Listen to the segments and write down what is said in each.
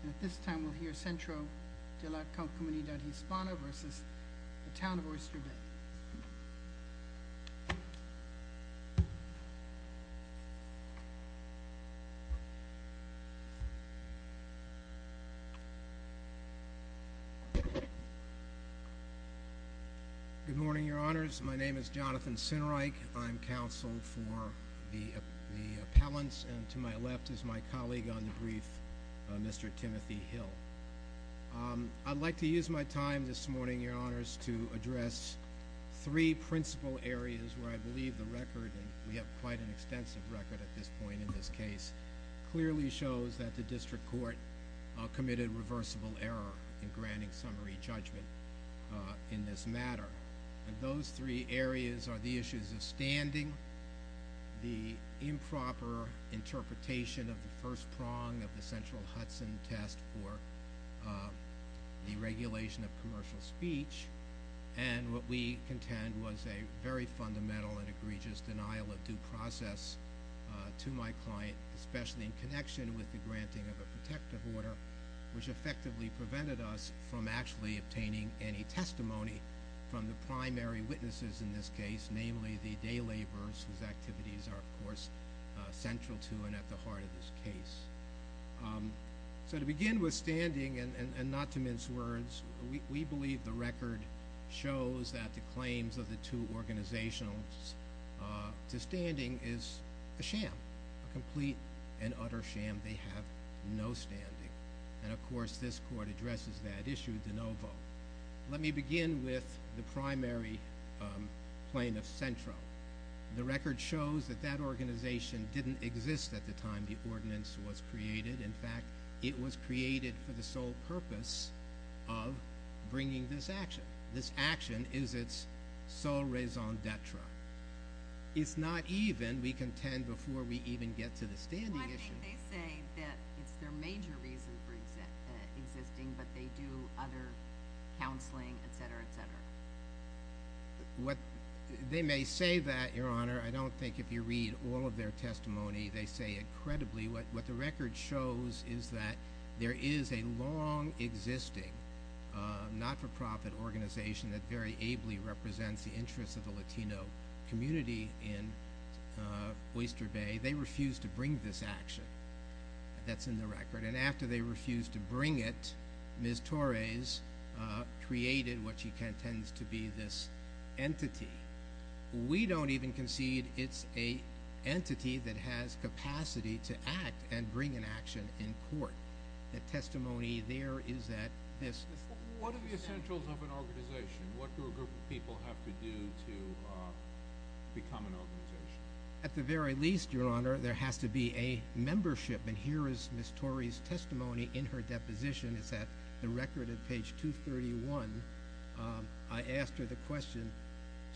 At this time, we'll hear Centro De La Comunidad Hispana versus the town of Oyster Bay. Good morning, your honors. My name is Jonathan Sinerike. I'm counsel for the appellants, and to my left is my colleague on the brief, Mr. Timothy Hill. I'd like to use my time this morning, your honors, to address three principal areas where I believe the record, and we have quite an extensive record at this point in this case, clearly shows that the district court committed reversible error in granting summary judgment in this matter. And those three areas are the issues of standing, the improper interpretation of the first prong of the central Hudson test for the regulation of commercial speech, and what we contend was a very fundamental and egregious denial of due process to my client, especially in connection with the granting of a protective order, which effectively prevented us from actually obtaining any testimony from the primary witnesses in this case, namely the day laborers whose activities are, of course, central to and at the heart of this case. So to begin with standing, and not to mince words, we believe the record shows that the claims of the two organizationals to standing is a sham, a complete and utter sham. They have no standing. And of course, this court addresses that issue de novo. Let me begin with the primary plaintiff, Centro. The record shows that that organization didn't exist at the time the ordinance was created. In fact, it was created for the sole purpose of bringing this action. This action is its sole raison d'etre. It's not even, we contend, before we even get to the standing issue. Well, I think they say that it's their major reason for existing, but they do not have any evidence of other counseling, etc., etc. What they may say that, Your Honor, I don't think if you read all of their testimony, they say incredibly what the record shows is that there is a long existing, not-for-profit organization that very ably represents the interests of the Latino community in Oyster Bay. They refuse to bring this action that's in the record. And after they created what she contends to be this entity, we don't even concede it's an entity that has capacity to act and bring an action in court. The testimony there is that this... What are the essentials of an organization? What do a group of people have to do to become an organization? At the very least, Your Honor, there has to be a membership. And here is Ms. Torrey's testimony in her deposition. It's at the record at page 231. I asked her the question.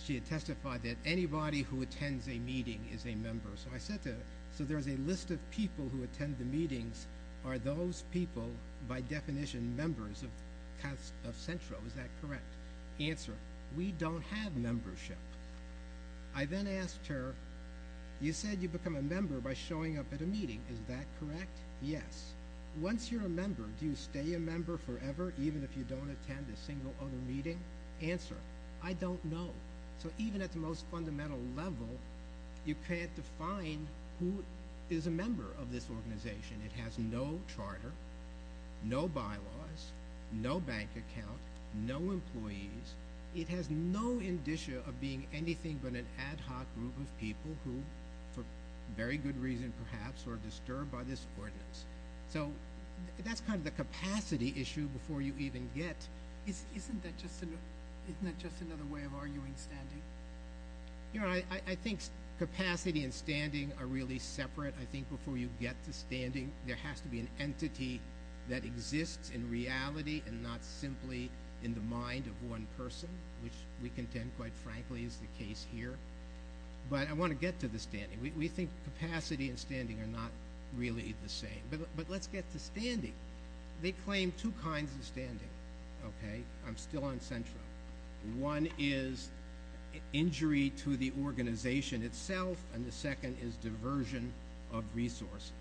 She had testified that anybody who attends a meeting is a member. So I said to her, so there's a list of people who attend the meetings. Are those people, by definition, members of Centro? Is that correct? Answer, we don't have membership. I then asked her, you said you become a member by showing up at a meeting. Is that correct? Yes. Once you're a member, do you stay a member forever, even if you don't attend a single other meeting? Answer, I don't know. So even at the most fundamental level, you can't define who is a member of this organization. It has no charter, no bylaws, no bank account, no employees. It has no indicia of being anything but an ad hoc group of people who, for very good reason, perhaps are disturbed by this ordinance. So that's kind of the capacity issue before you even get. Isn't that just another way of arguing standing? I think capacity and standing are really separate. I think before you get to standing, there has to be an entity that exists in reality and not simply in the mind of one person, which we contend, quite frankly, is the really the same. But let's get to standing. They claim two kinds of standing, okay? I'm still on central. One is injury to the organization itself, and the second is diversion of resources.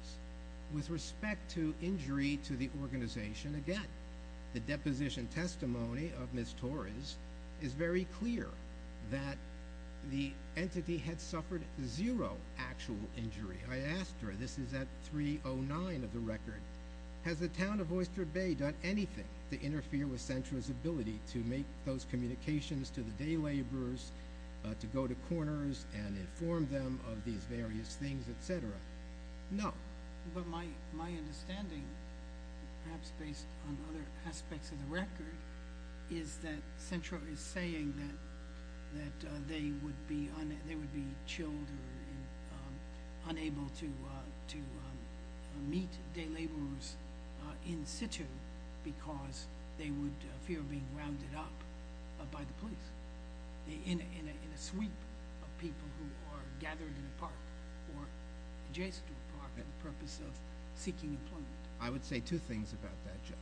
With respect to injury to the organization, again, the deposition testimony of Ms. Torres is very clear that the entity had suffered zero actual injury. I asked her, this is at 309 of the record, has the town of Oyster Bay done anything to interfere with CENTRA's ability to make those communications to the day laborers, to go to corners and inform them of these various things, et cetera? No. But my understanding, perhaps based on other aspects of the record, is that CENTRA is saying that they would be chilled or unable to meet day laborers in situ because they would fear being rounded up by the police in a sweep of people who are gathered in a park or adjacent to a park for the purpose of seeking employment. I would say two things about that judge.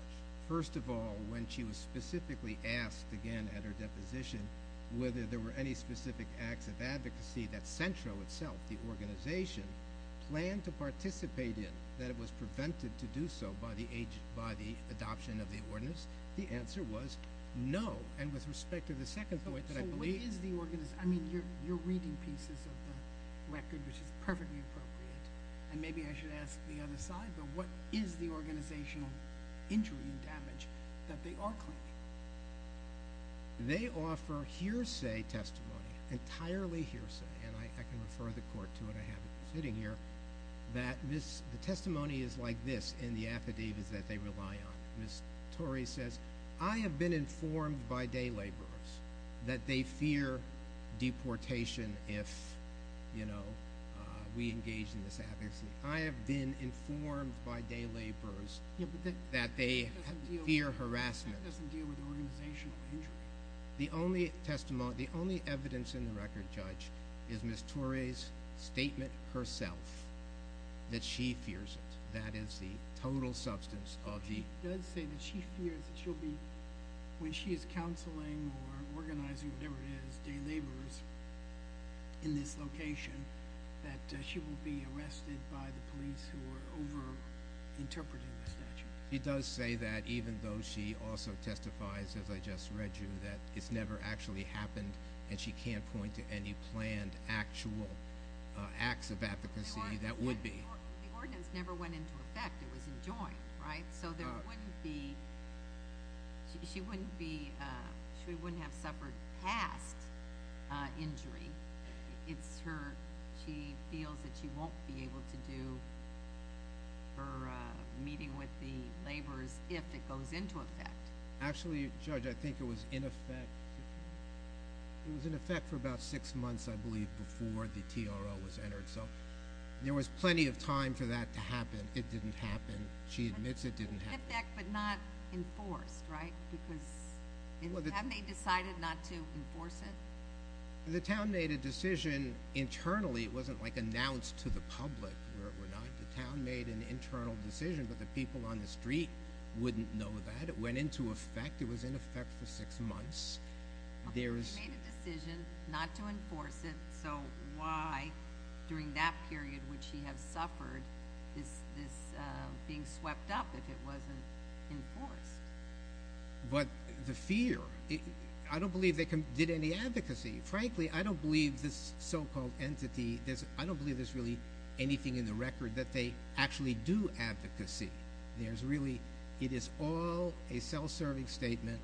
First of all, when she was specifically asked again at her deposition whether there were any specific acts of advocacy that CENTRA itself, the organization, planned to participate in that it was prevented to do so by the adoption of the ordinance, the answer was no. And with respect to the second point that I believe... So what is the organization? I mean, you're reading pieces of the record, which is perfectly appropriate. And maybe I should ask the other side, but what is the organizational injury and damage that they are claiming? They offer hearsay testimony, entirely hearsay, and I can refer the court to it, I have it sitting here, that the testimony is like this in the affidavits that they rely on. Ms. Torrey says, I have been informed by day laborers that they fear deportation if, you know, we engage in this advocacy. I have been informed by day laborers that they fear harassment. That doesn't deal with organizational injury. The only testimony, the only evidence in the record, Judge, is Ms. Torrey's statement herself that she fears it. That is the total substance of the... She does say that she fears that she'll be... when she is counseling or organizing, whatever it is, day laborers in this location, that she will be arrested by the police who are over-interpreting the statute. She does say that, even though she also testifies, as I just read you, that it's never actually happened, and she can't point to any planned actual acts of advocacy that would be... The ordinance never went into effect. It was enjoined, right? So there wouldn't be... She wouldn't be... She wouldn't have suffered past injury. It's her... She feels that she won't be able to do her meeting with the laborers if it goes into effect. Actually, Judge, I think it was in effect. It was in effect for about six months, I believe, before the TRO was entered. So there was plenty of time for that to happen. It didn't happen. She admits it didn't happen. In effect, but not enforced, right? Because... Well, the... Haven't they decided not to enforce it? The town made a decision internally. It wasn't, like, announced to the public, where it were not. The town made an internal decision, but the people on the street wouldn't know that. It went into effect. It was in effect for six months. There's... Well, she made a decision not to enforce it, so why, during that period, would she have suffered this being swept up if it wasn't enforced? But the fear... I don't believe they did any advocacy. Frankly, I don't believe this so-called entity... I don't believe there's really anything in the record that they actually do advocacy. There's really... It is all a self-serving statement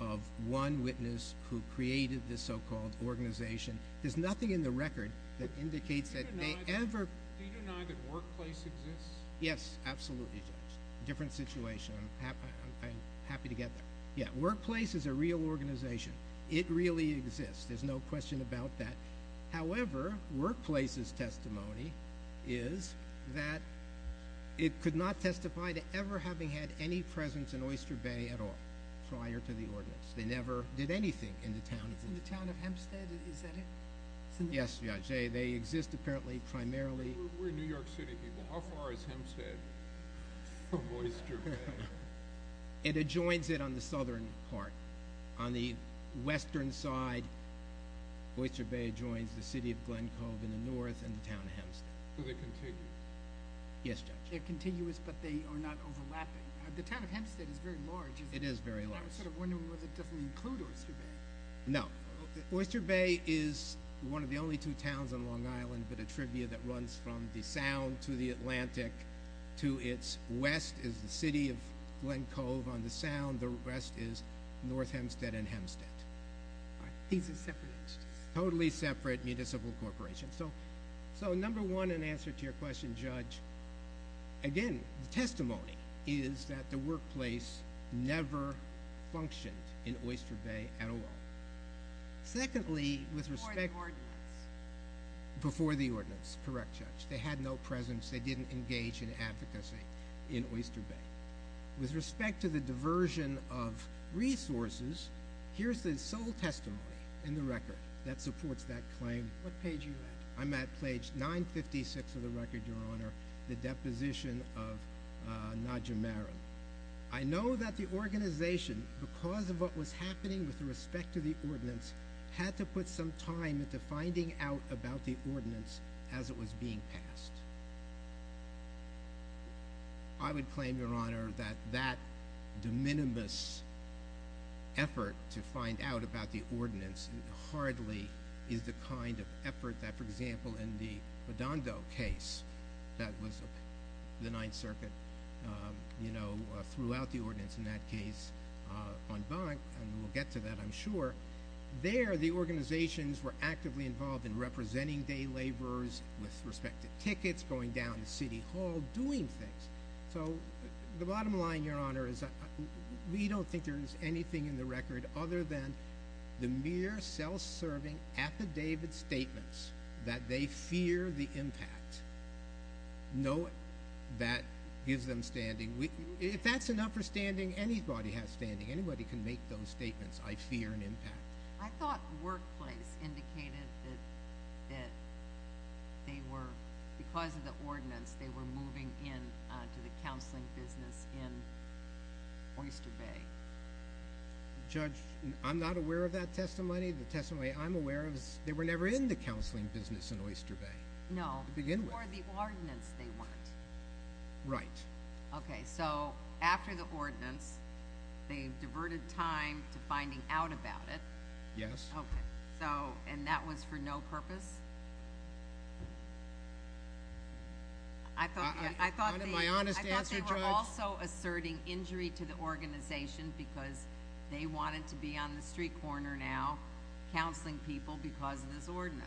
of one witness who created this so-called organization. There's nothing in the record that indicates that they ever... Do you deny that Workplace exists? Yes, absolutely, Judge. Different situation. I'm happy to get there. Yeah, Workplace is a real organization. It really exists. There's no question about that. However, Workplace's testimony is that it could not testify to ever having had any presence in Oyster Bay at all prior to the ordinance. They never did anything in the town... In the town of Hempstead? Is that it? Yes, Judge. They exist, apparently, primarily... We're New York City people. How far is Hempstead from Oyster Bay? It adjoins it on the southern part. On the western side, Oyster Bay adjoins the city of Glen Cove in the north and the town of Hempstead. Do they continue? Yes, Judge. They're continuous, but they are not overlapping. The town of Hempstead is very large. It is very large. I was sort of wondering whether it doesn't include Oyster Bay. No. Oyster Bay is one of the only two towns on Long Island, but a trivia that runs from the Sound to the Atlantic. To its west is the city of Glen Cove on the Sound. The west is North Hempstead and Hempstead. These are separate entities? Totally separate municipal corporations. So, number one, in answer to your question, Judge, again, the testimony is that the Workplace never functioned in Oyster Bay at all. Secondly, with respect... Before the ordinance? Before the ordinance, correct, Judge. They had no presence. They didn't engage in advocacy in Oyster Bay. With respect to the diversion of resources, here's the sole testimony in the record that supports that claim. What page are you at? I'm at page 956 of the record, Your Honor, the deposition of Nadja Maron. I know that the organization, because of what was happening with respect to the ordinance, had to put some time into finding out about the ordinance as it was being passed. I would claim, Your Honor, that that de minimis effort to find out about the ordinance hardly is the kind of effort that, for example, in the Bodongo case that was the Ninth Circuit, you know, threw out the ordinance in that case on bunk, and we'll get to that, I'm sure. There, the organizations were actively involved in representing day laborers with respect to tickets, going down to City Hall, doing things. So, the bottom line, Your Honor, is we don't think there's anything in the record other than the mere self-serving affidavit statements that they fear the impact. No, that gives them standing. If that's enough for standing, anybody has standing. Anybody can make those statements, I fear, an impact. I thought workplace indicated that they were, because of the ordinance, they were moving in to the counseling business in Oyster Bay. Judge, I'm not aware of that testimony. The testimony I'm aware of, they were never in the counseling business in Oyster Bay to begin with. Or the ordinance they weren't. Right. Okay. So, after the ordinance, they diverted time to finding out about it. Yes. Okay. So, and that was for no purpose? I thought they were also asserting injury to the organization because they wanted to be on the street corner now counseling people because of this ordinance.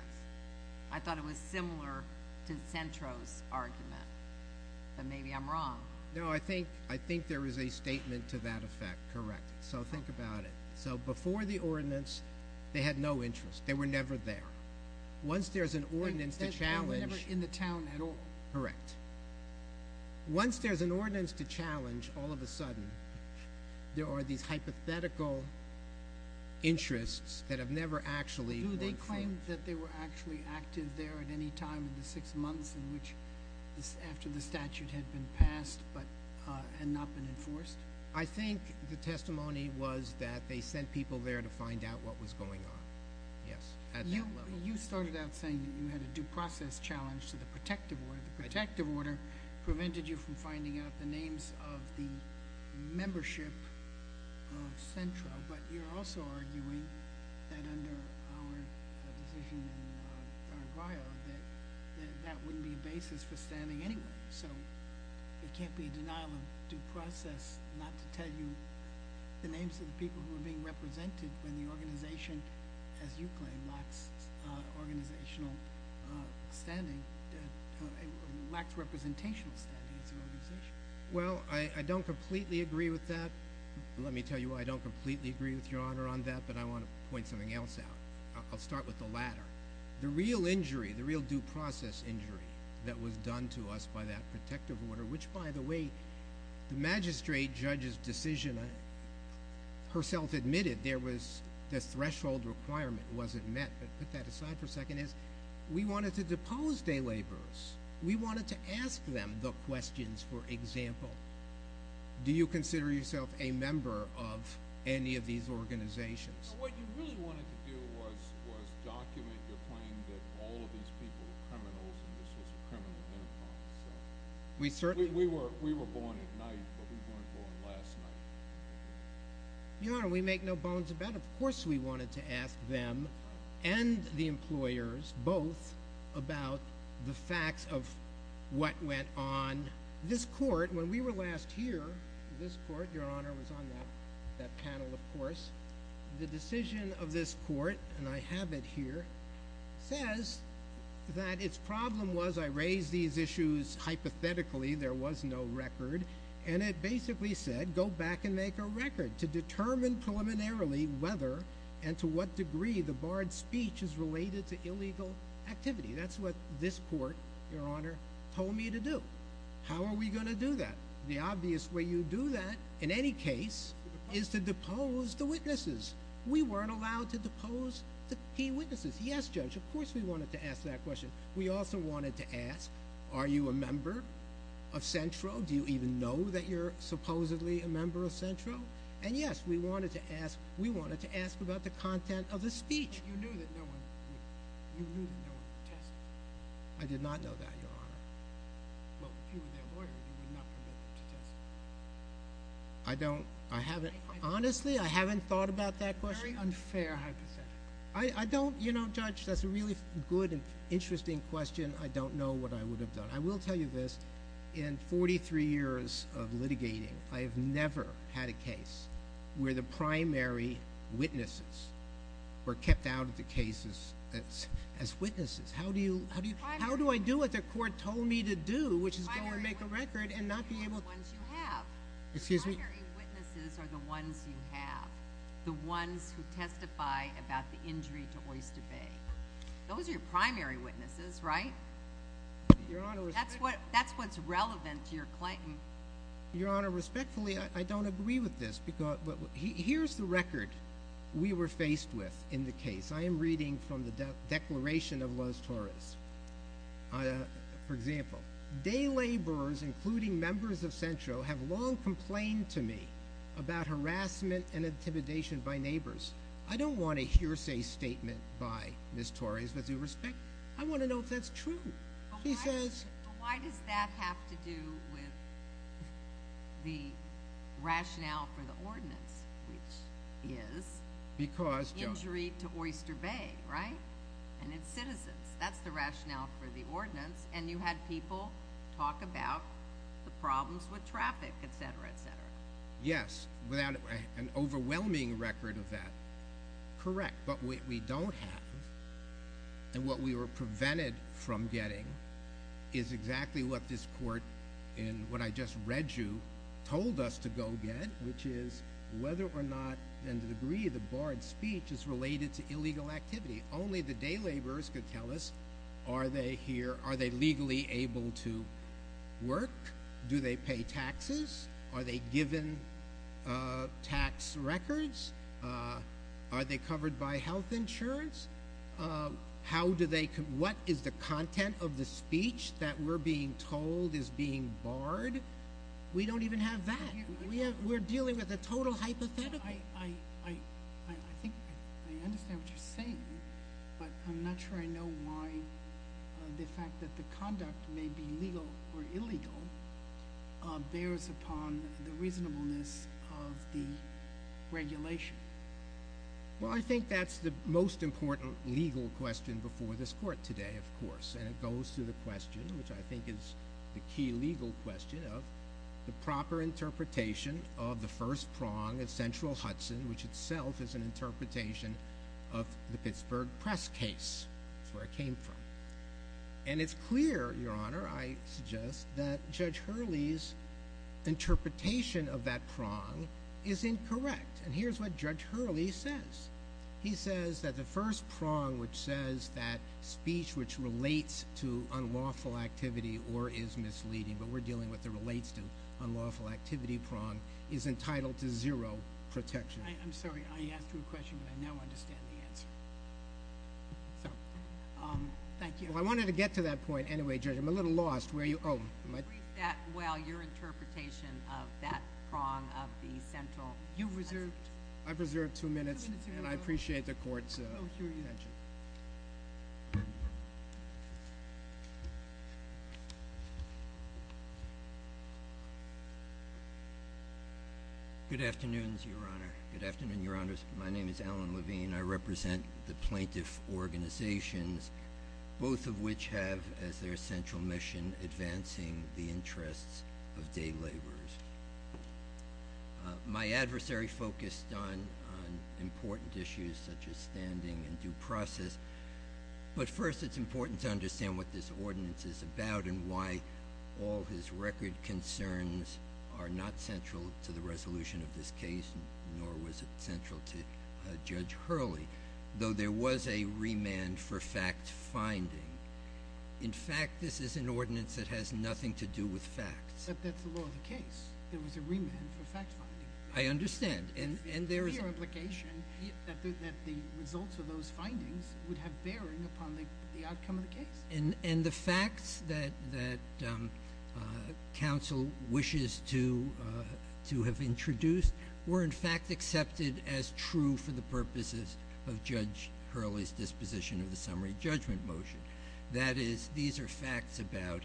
I thought it was similar to Centro's argument, but maybe I'm wrong. No, I think there is a statement to that effect, correct. So, think about it. So, before the ordinance, they had no interest. They were never there. Once there's an ordinance to challenge- They were never in the town at all. Correct. Once there's an ordinance to challenge, all of a sudden, there are these hypothetical interests that have never actually- Do they claim that they were actually active there at any time in the six months in which after the statute had been passed and not been enforced? I think the testimony was that they sent people there to find out what was going on. Yes. You started out saying that you had a due process challenge to the protective order. The protective order prevented you from finding out the names of the membership of Centro, but you're also arguing that under our decision in our bio that that wouldn't be a basis for standing anyway. So, it can't be a denial of due process not to tell you the names of the people who are being represented when the organization, as you claim, lacks organizational standing, Well, I don't completely agree with that. Let me tell you, I don't completely agree with Your Honor on that, but I want to point something else out. I'll start with the latter. The real injury, the real due process injury that was done to us by that protective order, which, by the way, the magistrate judge's decision herself admitted there was- The threshold requirement wasn't met, but put that aside for a second. We wanted to depose day laborers. We wanted to ask them the questions, for example, do you consider yourself a member of any of these organizations? What you really wanted to do was document your claim that all of these people were criminals and this was a criminal enterprise. We were born at night, but we weren't born last night. Your Honor, we make no bones about it. Of course we wanted to ask them and the employers both about the facts of what went on. This court, when we were last here, this court, Your Honor, was on that panel, of course. The decision of this court, and I have it here, says that its problem was I raised these issues hypothetically, there was no record, and it basically said, go back and make a record to determine preliminarily whether and to what degree the barred speech is related to illegal activity. That's what this court, Your Honor, told me to do. How are we going to do that? The obvious way you do that, in any case, is to depose the witnesses. We weren't allowed to depose the key witnesses. Yes, Judge, of course we wanted to ask that question. We also wanted to ask, are you a member of Centro? Do you even know that you're supposedly a member of Centro? And yes, we wanted to ask about the content of the speech. You knew that no one would test you. I did not know that, Your Honor. Well, if you were their lawyer, you would not permit them to test you. I don't, I haven't, honestly, I haven't thought about that question. Very unfair hypothetical. I don't, you know, Judge, that's a really good and interesting question. I don't know what I I have never had a case where the primary witnesses were kept out of the cases as witnesses. How do you, how do you, how do I do what the court told me to do, which is go and make a record and not be able to, excuse me, primary witnesses are the ones you have, the ones who testify about the injury to Oyster Bay. Those are your primary witnesses, right? Your Honor, that's what, that's what's relevant to your claim. Your Honor, respectfully, I don't agree with this because, here's the record we were faced with in the case. I am reading from the declaration of Loz Torres. For example, day laborers, including members of Centro, have long complained to me about harassment and intimidation by neighbors. I don't want a hearsay statement by Ms. Torres, with due respect. I want to know if that's true. She says... But why does that have to do with the rationale for the ordinance, which is... Because... Injury to Oyster Bay, right? And it's citizens. That's the rationale for the ordinance. And you had people talk about the problems with traffic, et cetera, et cetera. Yes, without an overwhelming record of that. Correct, but we don't have. And what we were prevented from getting is exactly what this court, in what I just read you, told us to go get, which is whether or not, and the degree of the barred speech is related to illegal activity. Only the day laborers could tell us, are they here, are they legally able to work? Do they pay taxes? Are they given tax records? Are they covered by health insurance? What is the content of the speech that we're being told is being barred? We don't even have that. We're dealing with a total hypothetical. I think I understand what you're saying, but I'm not sure I know why the fact that the conduct may be legal or illegal bears upon the reasonableness of the regulation. Well, I think that's the most important legal question before this court today, of course. And it goes to the question, which I think is the key legal question, of the proper interpretation of the first prong of Central Hudson, which itself is an interpretation of the Pittsburgh press case. That's where it came from. And it's clear, Your Honor, I suggest that Judge Hurley's interpretation of that prong is incorrect. And here's what Judge Hurley says. He says that the first prong, which says that speech which relates to unlawful activity or is misleading, but we're dealing with the relates to unlawful activity prong, is entitled to zero protection. I'm sorry. I asked you a question, but I now understand the answer. So, thank you. Well, I wanted to get to that point anyway, Judge. I'm a little lost. Read that well, your interpretation of that prong of the Central. I've reserved two minutes, and I appreciate the court's attention. Good afternoon, Your Honor. Good afternoon, Your Honors. My name is Alan Levine. I represent the plaintiff organizations, both of which have as their central mission advancing the interests of day laborers. My adversary focused on important issues such as standing and due process. But first, it's important to understand what this ordinance is about and why all his record concerns are not central to the resolution of this case, nor was it central to Judge Hurley, though there was a remand for fact-finding. In fact, this is an ordinance that has nothing to do with facts. But that's the law of the case. There was a remand for fact-finding. I understand. And there is a clear implication that the results of those findings would have bearing upon the outcome of the case. And the facts that counsel wishes to have introduced were, in fact, accepted as true for the purposes of Judge Hurley's disposition of the summary judgment motion. That is, these are facts about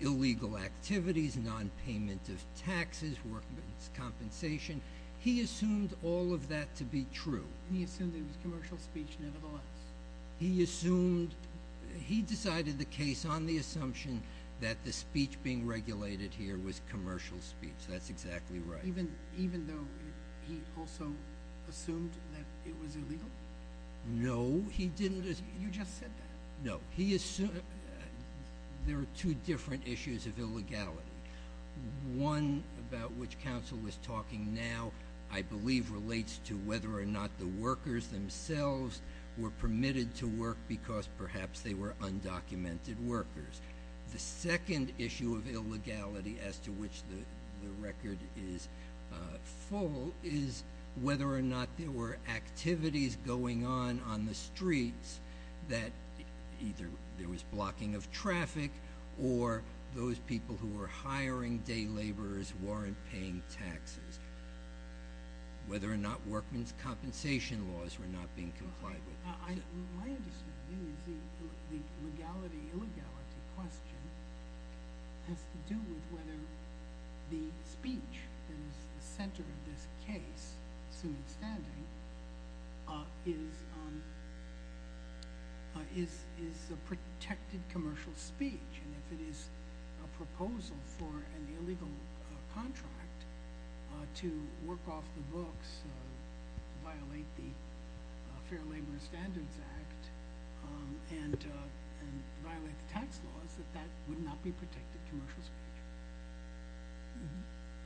illegal activities, nonpayment of taxes, workman's compensation. He assumed all of that to be true. He assumed it was commercial speech, nevertheless. He assumed he decided the case on the assumption that the speech being regulated here was commercial speech. That's exactly right. Even though he also assumed that it was illegal? No, he didn't. You just said that. No, he assumed there are two different issues of illegality. One about which counsel was talking now, I believe, relates to whether or not the workers themselves were permitted to work because perhaps they were undocumented workers. The second issue of illegality as to which the record is full is whether or not there were activities going on on the streets that either there was blocking of traffic or those people who were hiring day laborers weren't paying taxes. Whether or not workman's compensation laws were not being complied with. My understanding is the legality-illegality question has to do with whether the speech that is the center of this case, soon standing, is a protected commercial speech. If it is a proposal for an illegal contract to work off the books, violate the Fair Labor Standards Act, and violate the tax laws, that would not be protected commercial speech.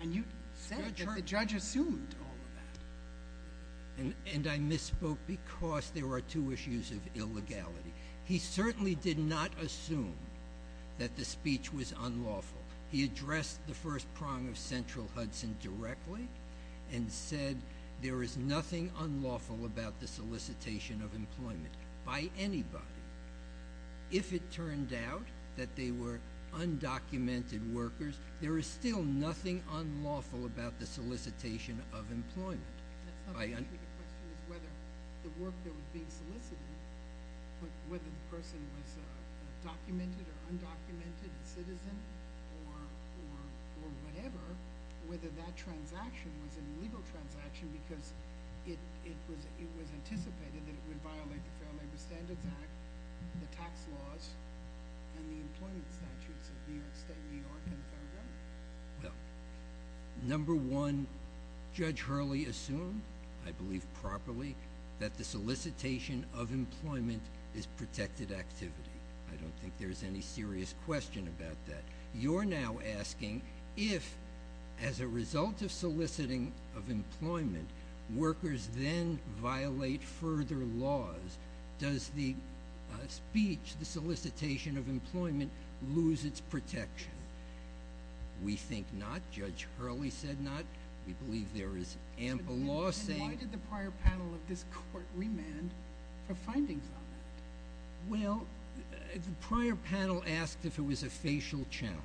And you said that the judge assumed all of that. And I misspoke because there are two issues of illegality. He certainly did not assume that the speech was unlawful. He addressed the first prong of Central Hudson directly and said there is nothing unlawful about the solicitation of employment by anybody. If it turned out that they were undocumented workers, there is still nothing unlawful about the solicitation of employment. That's not the issue. The question is whether the work that was being solicited, whether the person was a documented or undocumented citizen or whatever, whether that transaction was a legal transaction because it was anticipated that it would violate the Fair Labor Standards Act, the tax laws, and the employment statutes of New York State, New York, and the federal government. Well, number one, Judge Hurley assumed, I believe properly, that the solicitation of employment is protected activity. I don't think there's any serious question about that. You're now asking if, as a result of soliciting of employment, workers then violate further laws, does the speech, the solicitation of employment, lose its protection? We think not. Judge Hurley said not. We believe there is ample law saying- And why did the prior panel of this court remand for findings on that? Well, the prior panel asked if it was a facial challenge.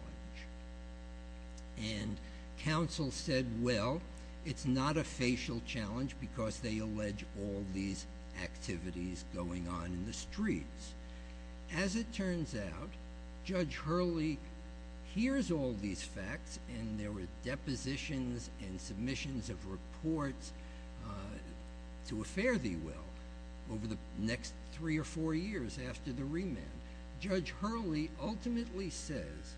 And counsel said, well, it's not a facial challenge because they allege all these activities going on in the streets. As it turns out, Judge Hurley hears all these facts and there were depositions and submissions of reports to a fare-thee-well over the next three or four years after the remand. Judge Hurley ultimately says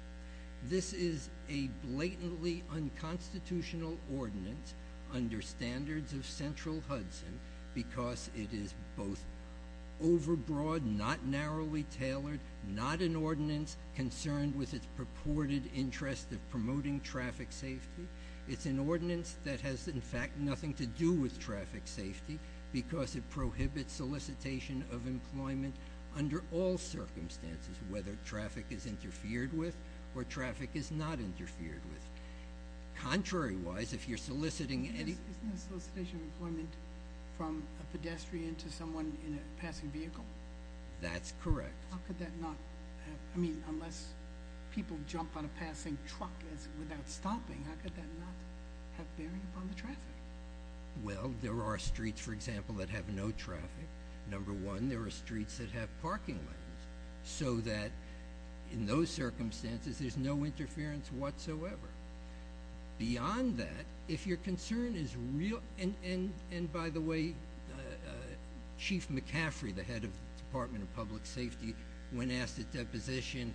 this is a blatantly unconstitutional ordinance under standards of narrowly tailored, not an ordinance concerned with its purported interest of promoting traffic safety. It's an ordinance that has, in fact, nothing to do with traffic safety because it prohibits solicitation of employment under all circumstances, whether traffic is interfered with or traffic is not interfered with. Contrary-wise, if you're soliciting any- Isn't the solicitation of employment from a pedestrian to someone in a passing vehicle? That's correct. How could that not have- I mean, unless people jump on a passing truck without stopping, how could that not have bearing upon the traffic? Well, there are streets, for example, that have no traffic. Number one, there are streets that have parking lots so that in those circumstances, there's no interference whatsoever. Beyond that, if your concern is real- and by the way, Chief McCaffrey, the head of the Department of Public Safety, when asked at deposition,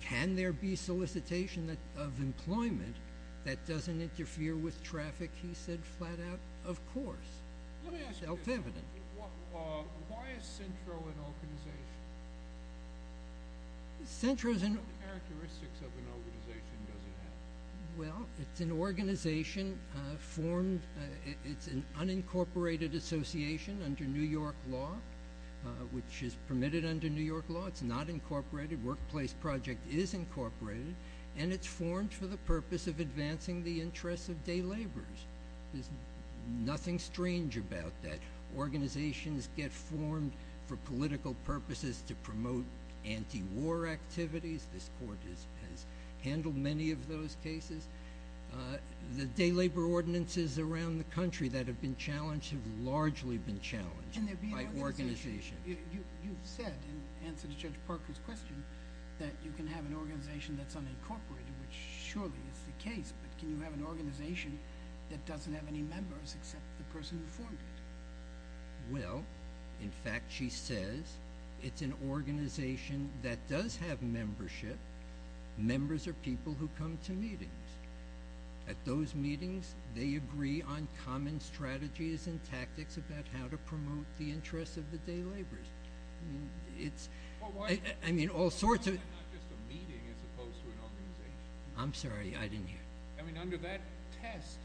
can there be solicitation of employment that doesn't interfere with traffic? He said, flat out, of course. Let me ask you- Self-evident. Why is Centro an organization? Centro's an- What characteristics of an organization does it have? Well, it's an organization formed- it's an unincorporated association under New York law, which is permitted under New York law. It's not incorporated. Workplace project is incorporated, and it's formed for the purpose of advancing the interests of day laborers. There's nothing strange about that. Organizations get formed for political purposes to promote anti-war activities. This Court has handled many of those cases. The day labor ordinances around the country that have been challenged have largely been challenged by organizations. And there'd be another association. You've said, in answer to Judge Parker's question, that you can have an organization that's unincorporated, which surely is the case, but can you have an organization that doesn't have any members except the person who formed it? Well, in fact, she says it's an organization that does have membership. Members are people who come to meetings. At those meetings, they agree on common strategies and tactics about how to promote the interests of the day laborers. I mean, all sorts of- But why not just a meeting as opposed to an organization? I'm sorry, I didn't hear. I mean, under that test,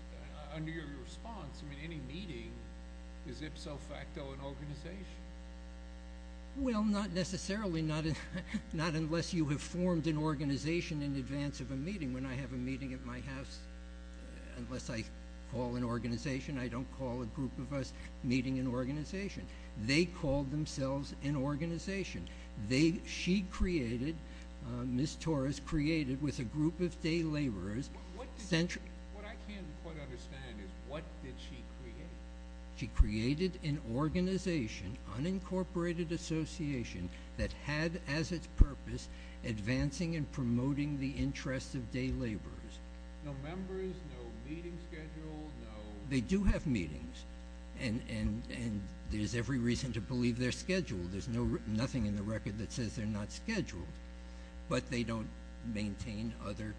under your response, I mean, any meeting is ipso facto an organization. Well, not necessarily, not unless you have formed an organization in advance of a meeting. When I have a meeting at my house, unless I call an organization, I don't call a group of us meeting an organization. They call themselves an organization. She created, Ms. Torres created, with a group of day laborers- What I can't quite understand is what did she create? She created an organization, unincorporated association, that had as its purpose advancing and promoting the interests of day laborers. No members, no meeting schedule, no- They do have meetings, and there's every reason to believe they're scheduled. There's nothing in the record that says they're not scheduled, but they don't maintain other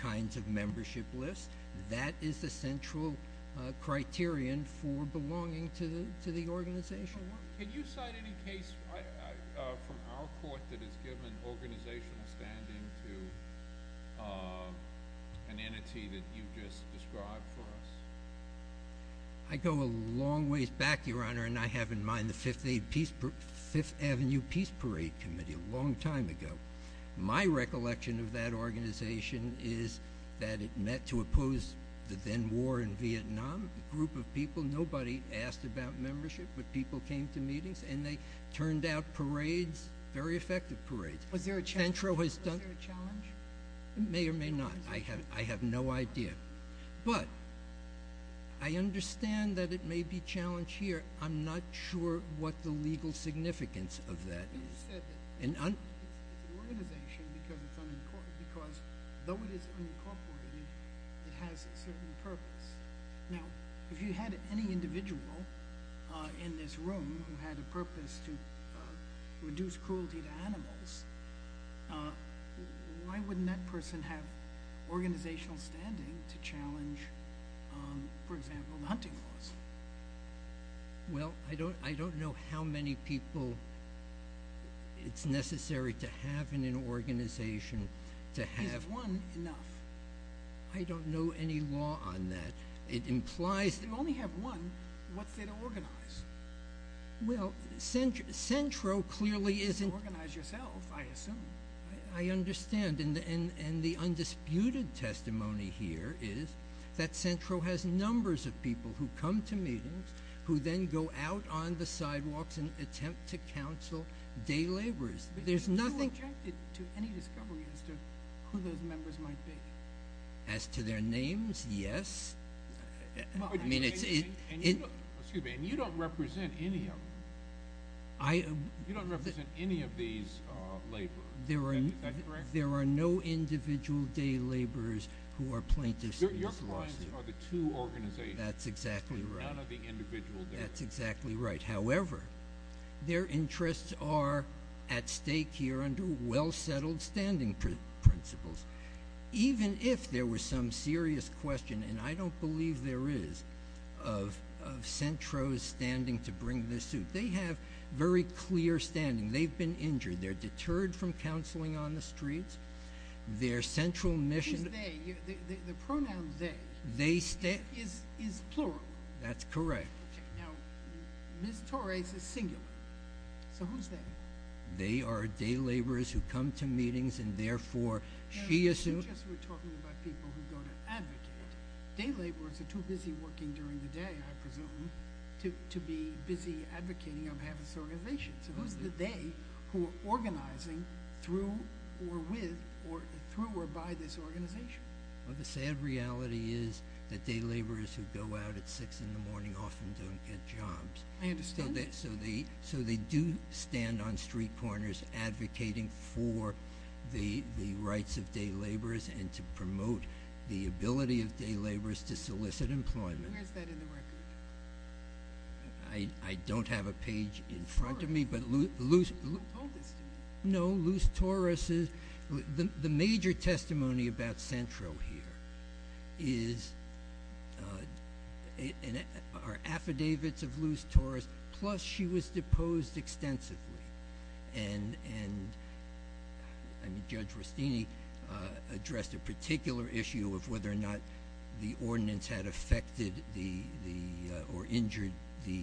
kinds of membership lists. That is the central criterion for belonging to the organization. Can you cite any case from our court that has given organizational standing to an entity that you've just described for us? I go a long ways back, Your Honor, and I have in mind the Fifth Avenue Peace Parade Committee a long time ago. My recollection of that organization is that it met to oppose the then war in Vietnam, a group of people. Nobody asked about membership, but people came to meetings, and they turned out parades, very effective parades. Was there a challenge? Centro has done- Was there a challenge? May or may not. I have no idea, but I understand that it may be a challenge here. I'm not sure what the legal significance of that is. You said it's an organization because though it is unincorporated, it has a certain purpose. Now, if you had any individual in this room who had a purpose to reduce cruelty to animals, why wouldn't that person have organizational standing to challenge, for example, the hunting laws? Well, I don't know how many people it's necessary to have in an organization to have- Is one enough? I don't know any law on that. It implies- You only have one. What's there to organize? Well, Centro clearly isn't- Organize yourself, I assume. I understand, and the undisputed testimony here is that Centro has numbers of people who come to meetings, who then go out on the sidewalks and attempt to counsel day laborers. There's nothing- Are you objecting to any discovery as to who those members might be? As to their names, yes. Excuse me, and you don't represent any of them. You don't represent any of these laborers. Is that correct? There are no individual day laborers who are plaintiffs in this lawsuit. Your clients are the two organizations. That's exactly right. None of the individual day laborers. That's exactly right. However, their interests are at stake here under well-settled standing principles. Even if there were some serious question, and I don't believe there is, of Centro's standing to bring this suit, they have very clear standing. They've been injured. They're deterred from counseling on the streets. Their central mission- Who's they? The pronoun they. They stay- Is plural. That's correct. Okay. Now, Ms. Torres is singular. So, who's they? They are day laborers who come to meetings, and therefore, she assumes- We're just talking about people who go to advocate. Day laborers are too busy working during the day, I presume, to be busy advocating on behalf of this organization. So, who's the they who are organizing through or with or through or by this organization? Well, the sad reality is that day laborers who go out at six in the morning often don't get jobs. I understand. So, they do stand on street corners advocating for the rights of day laborers and to promote the ability of day laborers to solicit employment. Where's that in the record? I don't have a page in front of me, but Luz- Who told this to you? No, Luz Torres. The major testimony about Centro here is- are affidavits of Luz Torres, plus she was deposed extensively, and Judge Rustini addressed a particular issue of whether or not the ordinance had affected or injured the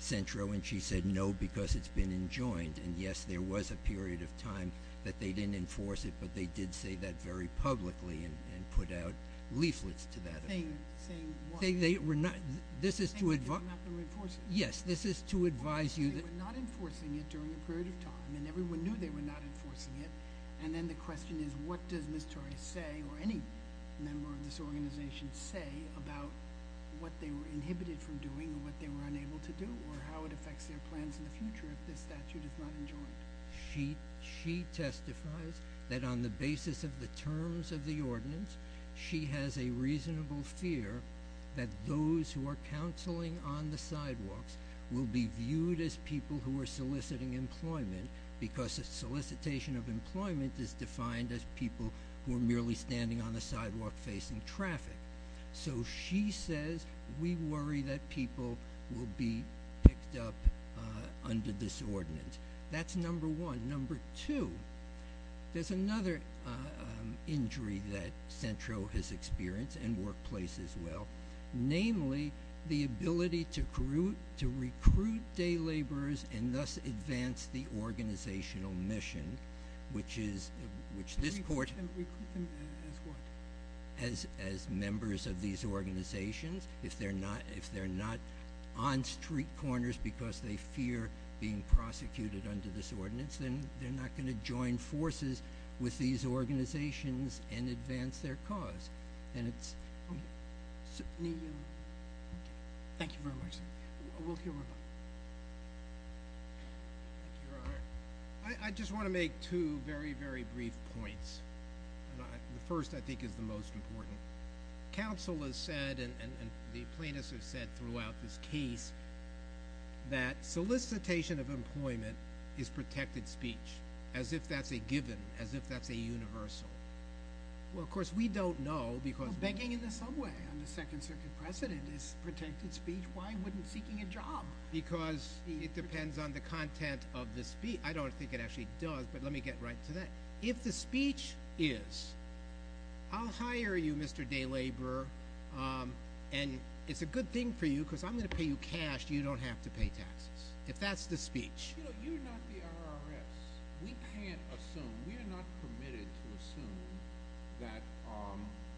Centro, and she said no because it's been enjoined, and yes, there was a period of time that they didn't enforce it, but they did say that very publicly and put out leaflets to that effect. Saying what? They were not- this is to- Saying that they were not enforcing it? Yes, this is to advise you that- Well, they were not enforcing it during a period of time, and everyone knew they were not enforcing it, and then the question is what does Ms. Torres say or any member of this organization say about what they were inhibited from doing or what they were unable to do or how it affects their plans in the future if this statute is not enjoined? She- she testifies that on the basis of the terms of the ordinance, she has a reasonable fear that those who are counseling on the sidewalks will be viewed as people who are soliciting employment because a solicitation of employment is defined as people who are merely standing on the sidewalk facing traffic. So she says we worry that people will be picked up under this ordinance. That's number one. Number two, there's another injury that Centro has experienced and workplace as well, namely the ability to recruit- to recruit day laborers and thus advance the organizational mission, which is- which this court- Recruit them as what? As- as members of these organizations. If they're not- if they're not on street corners because they fear being prosecuted under this ordinance, then they're not going to join forces with these organizations and advance their cause. And it's- Thank you very much, sir. We'll hear- I just want to make two very, very brief points. And the first, I think, is the most important. Counsel has said, and the plaintiffs have said throughout this case, that solicitation of employment is protected speech, as if that's a given, as if that's a universal. Well, of course, we don't know because- Begging in the subway on the Second Circuit precedent is protected speech. Why wouldn't seeking a job? Because it depends on the content of the speech. I don't think it actually does, but let me get right to that. If the speech is, I'll hire you, Mr. Day Laborer, and it's a good thing for you because I'm going to pay you cash, you don't have to pay taxes. If that's the speech- You know, you're not the RRS. We can't assume- we are not permitted to assume that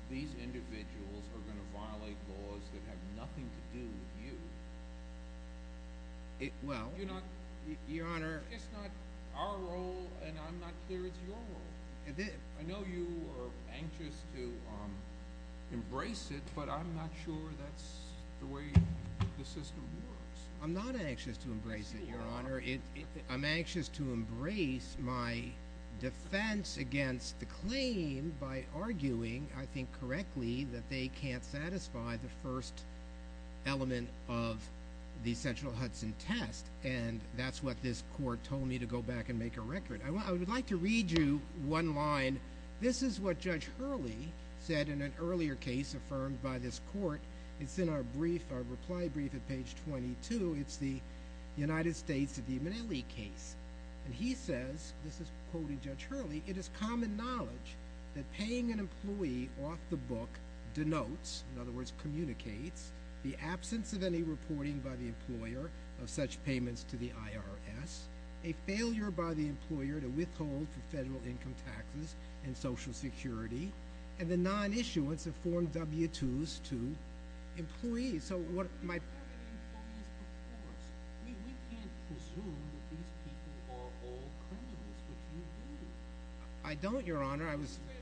these individuals are going to violate laws that have nothing to do with you. Well- You're not- Your Honor- It's not our role, and I'm not clear it's your role. I know you are anxious to embrace it, but I'm not sure that's the way the system works. I'm not anxious to embrace it, Your Honor. I'm anxious to embrace my defense against the claim by arguing, I think correctly, that they can't satisfy the first element of the central Hudson test, and that's what this court told me to go back and make a record. I would like to read you one line. This is what Judge Hurley said in an earlier case affirmed by this court. It's in our brief, our reply brief at page 22. It's the United States of the Imanelli case, and he says, this is quoting Judge Hurley, it is common knowledge that paying an employee off the book denotes, in other words communicates, the absence of any reporting by the employer of such payments to the IRS, a failure by the employer to withhold for federal income taxes and social security, and the non-issuance of Form W-2s to employees. So what my- Employees, of course. We can't presume that these people are all criminals, but you do. I don't, Your Honor.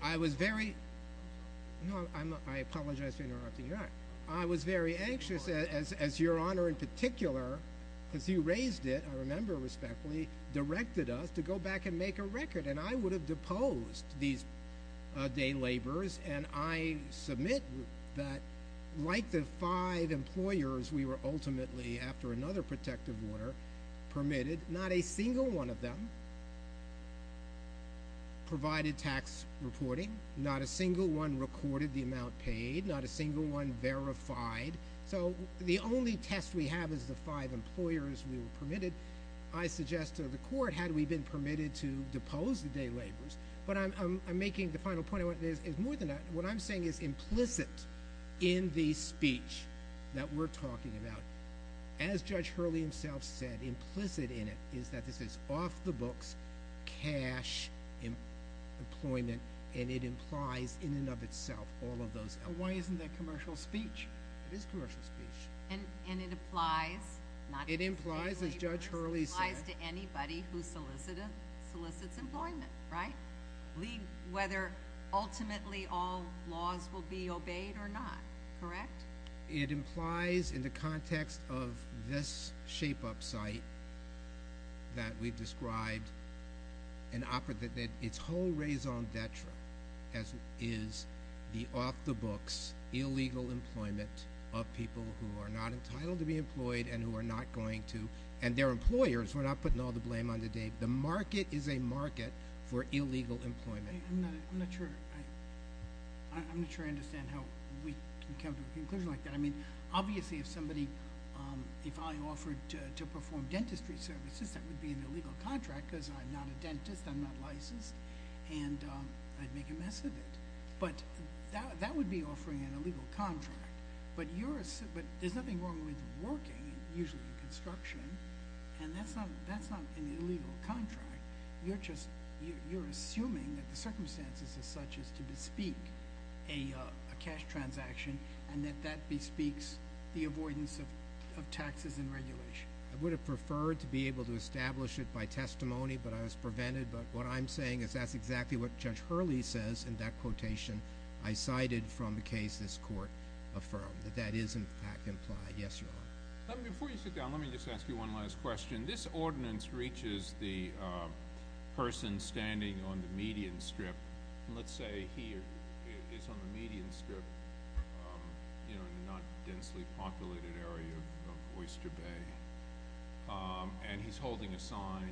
I was very- No, I apologize for interrupting, Your Honor. I was very anxious, as Your Honor in particular, because you raised it, I remember respectfully, directed us to go back and make a record. And I would have deposed these day laborers, and I submit that like the five employers we were ultimately, after another protective order, permitted, not a single one of them provided tax reporting. Not a single one recorded the amount paid. Not a single one verified. So the only test we have is the five employers we were permitted, I suggest to the court, had we been permitted to depose the day laborers. But I'm making the final point, is more than that, what I'm saying is implicit in the speech that we're talking about, as Judge Hurley himself said, implicit in it is that this is off the cash employment, and it implies in and of itself all of those- Why isn't that commercial speech? It is commercial speech. And it implies- It implies, as Judge Hurley said- It implies to anybody who solicits employment, right? Whether ultimately all laws will be obeyed or not, correct? It implies in the context of this shape-up site that we've described, and offered that its whole raison d'etre is the off-the-books illegal employment of people who are not entitled to be employed and who are not going to- And they're employers. We're not putting all the blame on the day- The market is a market for illegal employment. I'm not sure I understand how we can come to a conclusion like that. I mean, obviously, if somebody- If I offered to perform dentistry services, that would be an illegal contract because I'm not a dentist, I'm not licensed, and I'd make a mess of it. But that would be offering an illegal contract. But there's nothing wrong with working, usually in construction, and that's not an illegal contract. You're just- You're assuming that the circumstances as such is to bespeak a cash transaction and that that bespeaks the avoidance of taxes and regulation. I would have preferred to be able to establish it by testimony, but I was prevented. But what I'm saying is that's exactly what Judge Hurley says in that quotation I cited from the case this Court affirmed, that that is, in fact, implied. Yes, Your Honor. Before you sit down, let me just ask you one last question. This ordinance reaches the person standing on the median strip. Let's say he is on the median strip in the not densely populated area of Oyster Bay, and he's holding a sign,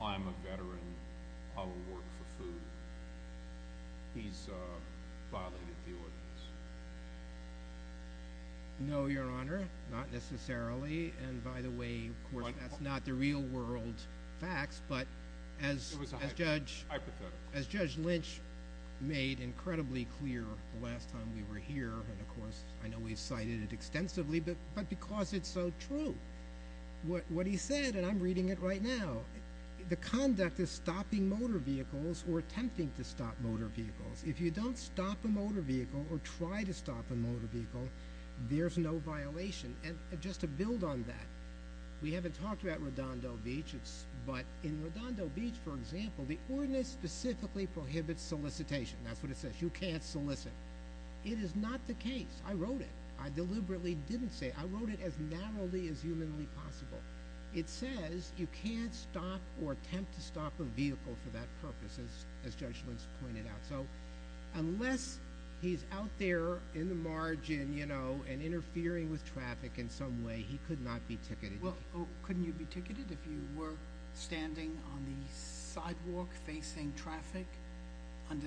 I'm a veteran, I will work for food. He's violated the ordinance. No, Your Honor, not necessarily. And by the way, of course, that's not the real world facts. But as Judge Lynch made incredibly clear the last time we were here, and of course, I know we've cited it extensively, but because it's so true, what he said, and I'm reading it right now, the conduct is stopping motor vehicles or attempting to stop motor vehicles. If you don't stop a motor vehicle or try to stop a motor vehicle, there's no violation. And just to build on that, we haven't talked about Redondo Beach, but in Redondo Beach, for example, the ordinance specifically prohibits solicitation. That's what it says. You can't solicit. It is not the case. I wrote it. I deliberately didn't say it. I wrote it as narrowly as humanly possible. It says you can't stop or attempt to stop a vehicle for that purpose, as Judge Lynch pointed out. So unless he's out there in the margin, you know, and interfering with traffic in some way, he could not be ticketed. Well, couldn't you be ticketed if you were standing on the sidewalk facing traffic under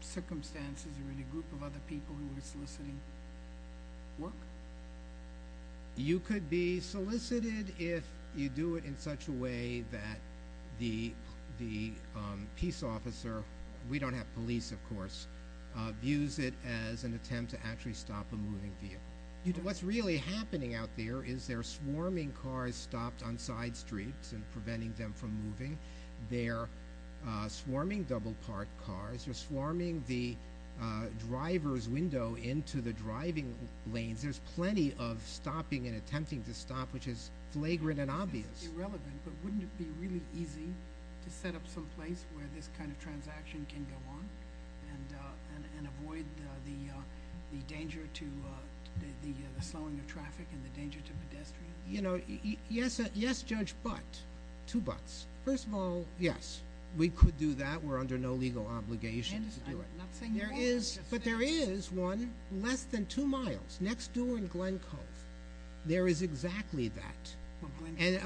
circumstances or any group of other people who were soliciting work? You could be solicited if you do it in such a way that the peace officer, we don't have police, of course, views it as an attempt to actually stop a moving vehicle. What's really happening out there is they're swarming cars stopped on side streets and preventing them from moving. They're swarming double parked cars. They're swarming the driver's window into the driving lanes. There's plenty of stopping and attempting to stop, which is flagrant and obvious. This is irrelevant, but wouldn't it be really easy to set up some place where this kind of transaction can go on and avoid the danger to the slowing of traffic and the danger to pedestrians? You know, yes, Judge, but two buts. First of all, yes, we could do that. We're under no legal obligation to do it. I'm not saying you are. There is, but there is one less than two miles next door in Glen Cove. There is exactly that.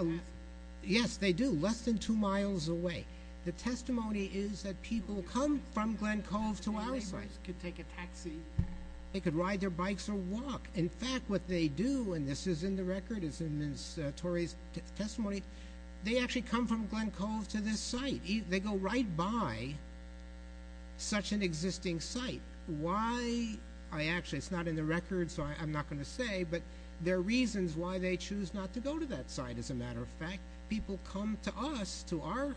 Yes, they do. Less than two miles away. The testimony is that people come from Glen Cove to our site. They could take a taxi. They could ride their bikes or walk. In fact, what they do, and this is in the record, it's in Ms. Torrey's testimony, they actually come from Glen Cove to this site. They go right by such an existing site. Why? Actually, it's not in the record, so I'm not going to say, but there are reasons why they choose not to go to that site. As a matter of fact, people come to us, to our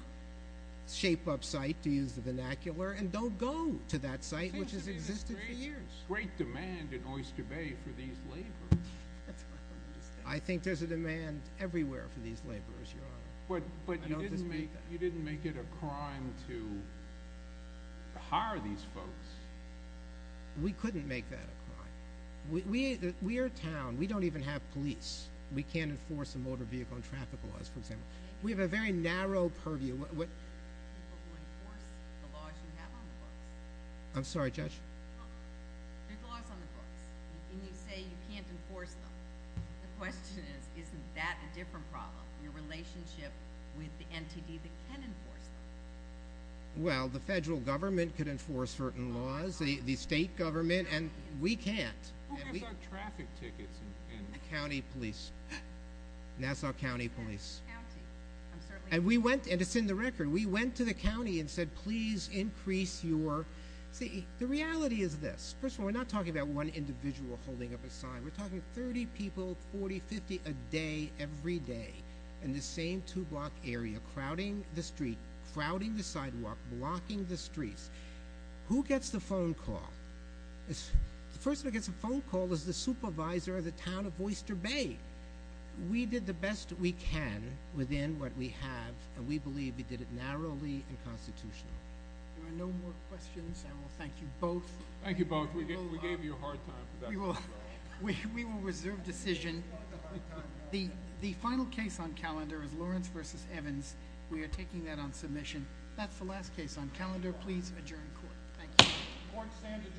Shape Up site, to use the vernacular, and don't go to that site, which has existed for years. There seems to be a great demand in Oyster Bay for these laborers. I think there's a demand everywhere for these laborers, Your Honor. But you didn't make it a crime to hire these folks. We couldn't make that a crime. We are a town. We don't even have police. We can't enforce the motor vehicle and traffic laws, for example. We have a very narrow purview. People who enforce the laws you have on the books. I'm sorry, Judge? There are laws on the books, and you say you can't enforce them. The question is, isn't that a different problem? Your relationship with the NTD that can enforce them. Well, the federal government could enforce certain laws, the state government, and we can't. Who gets our traffic tickets? County police. Nassau County Police. And we went, and it's in the record, we went to the county and said, please increase your, see, the reality is this. First of all, we're not talking about one individual holding up a sign. We're talking 30 people, 40, 50 a day, every day, in the same two block area, crowding the street, crowding the sidewalk, blocking the streets. Who gets the phone call? The person who gets the phone call is the supervisor of the town of Oyster Bay. We did the best we can within what we have, and we believe we did it narrowly and constitutionally. There are no more questions. I will thank you both. Thank you both. We gave you a hard time. We will reserve decision. The final case on calendar is Lawrence v. Evans. We are taking that on submission. That's the last case on calendar. Please adjourn court. Thank you. Court is adjourned.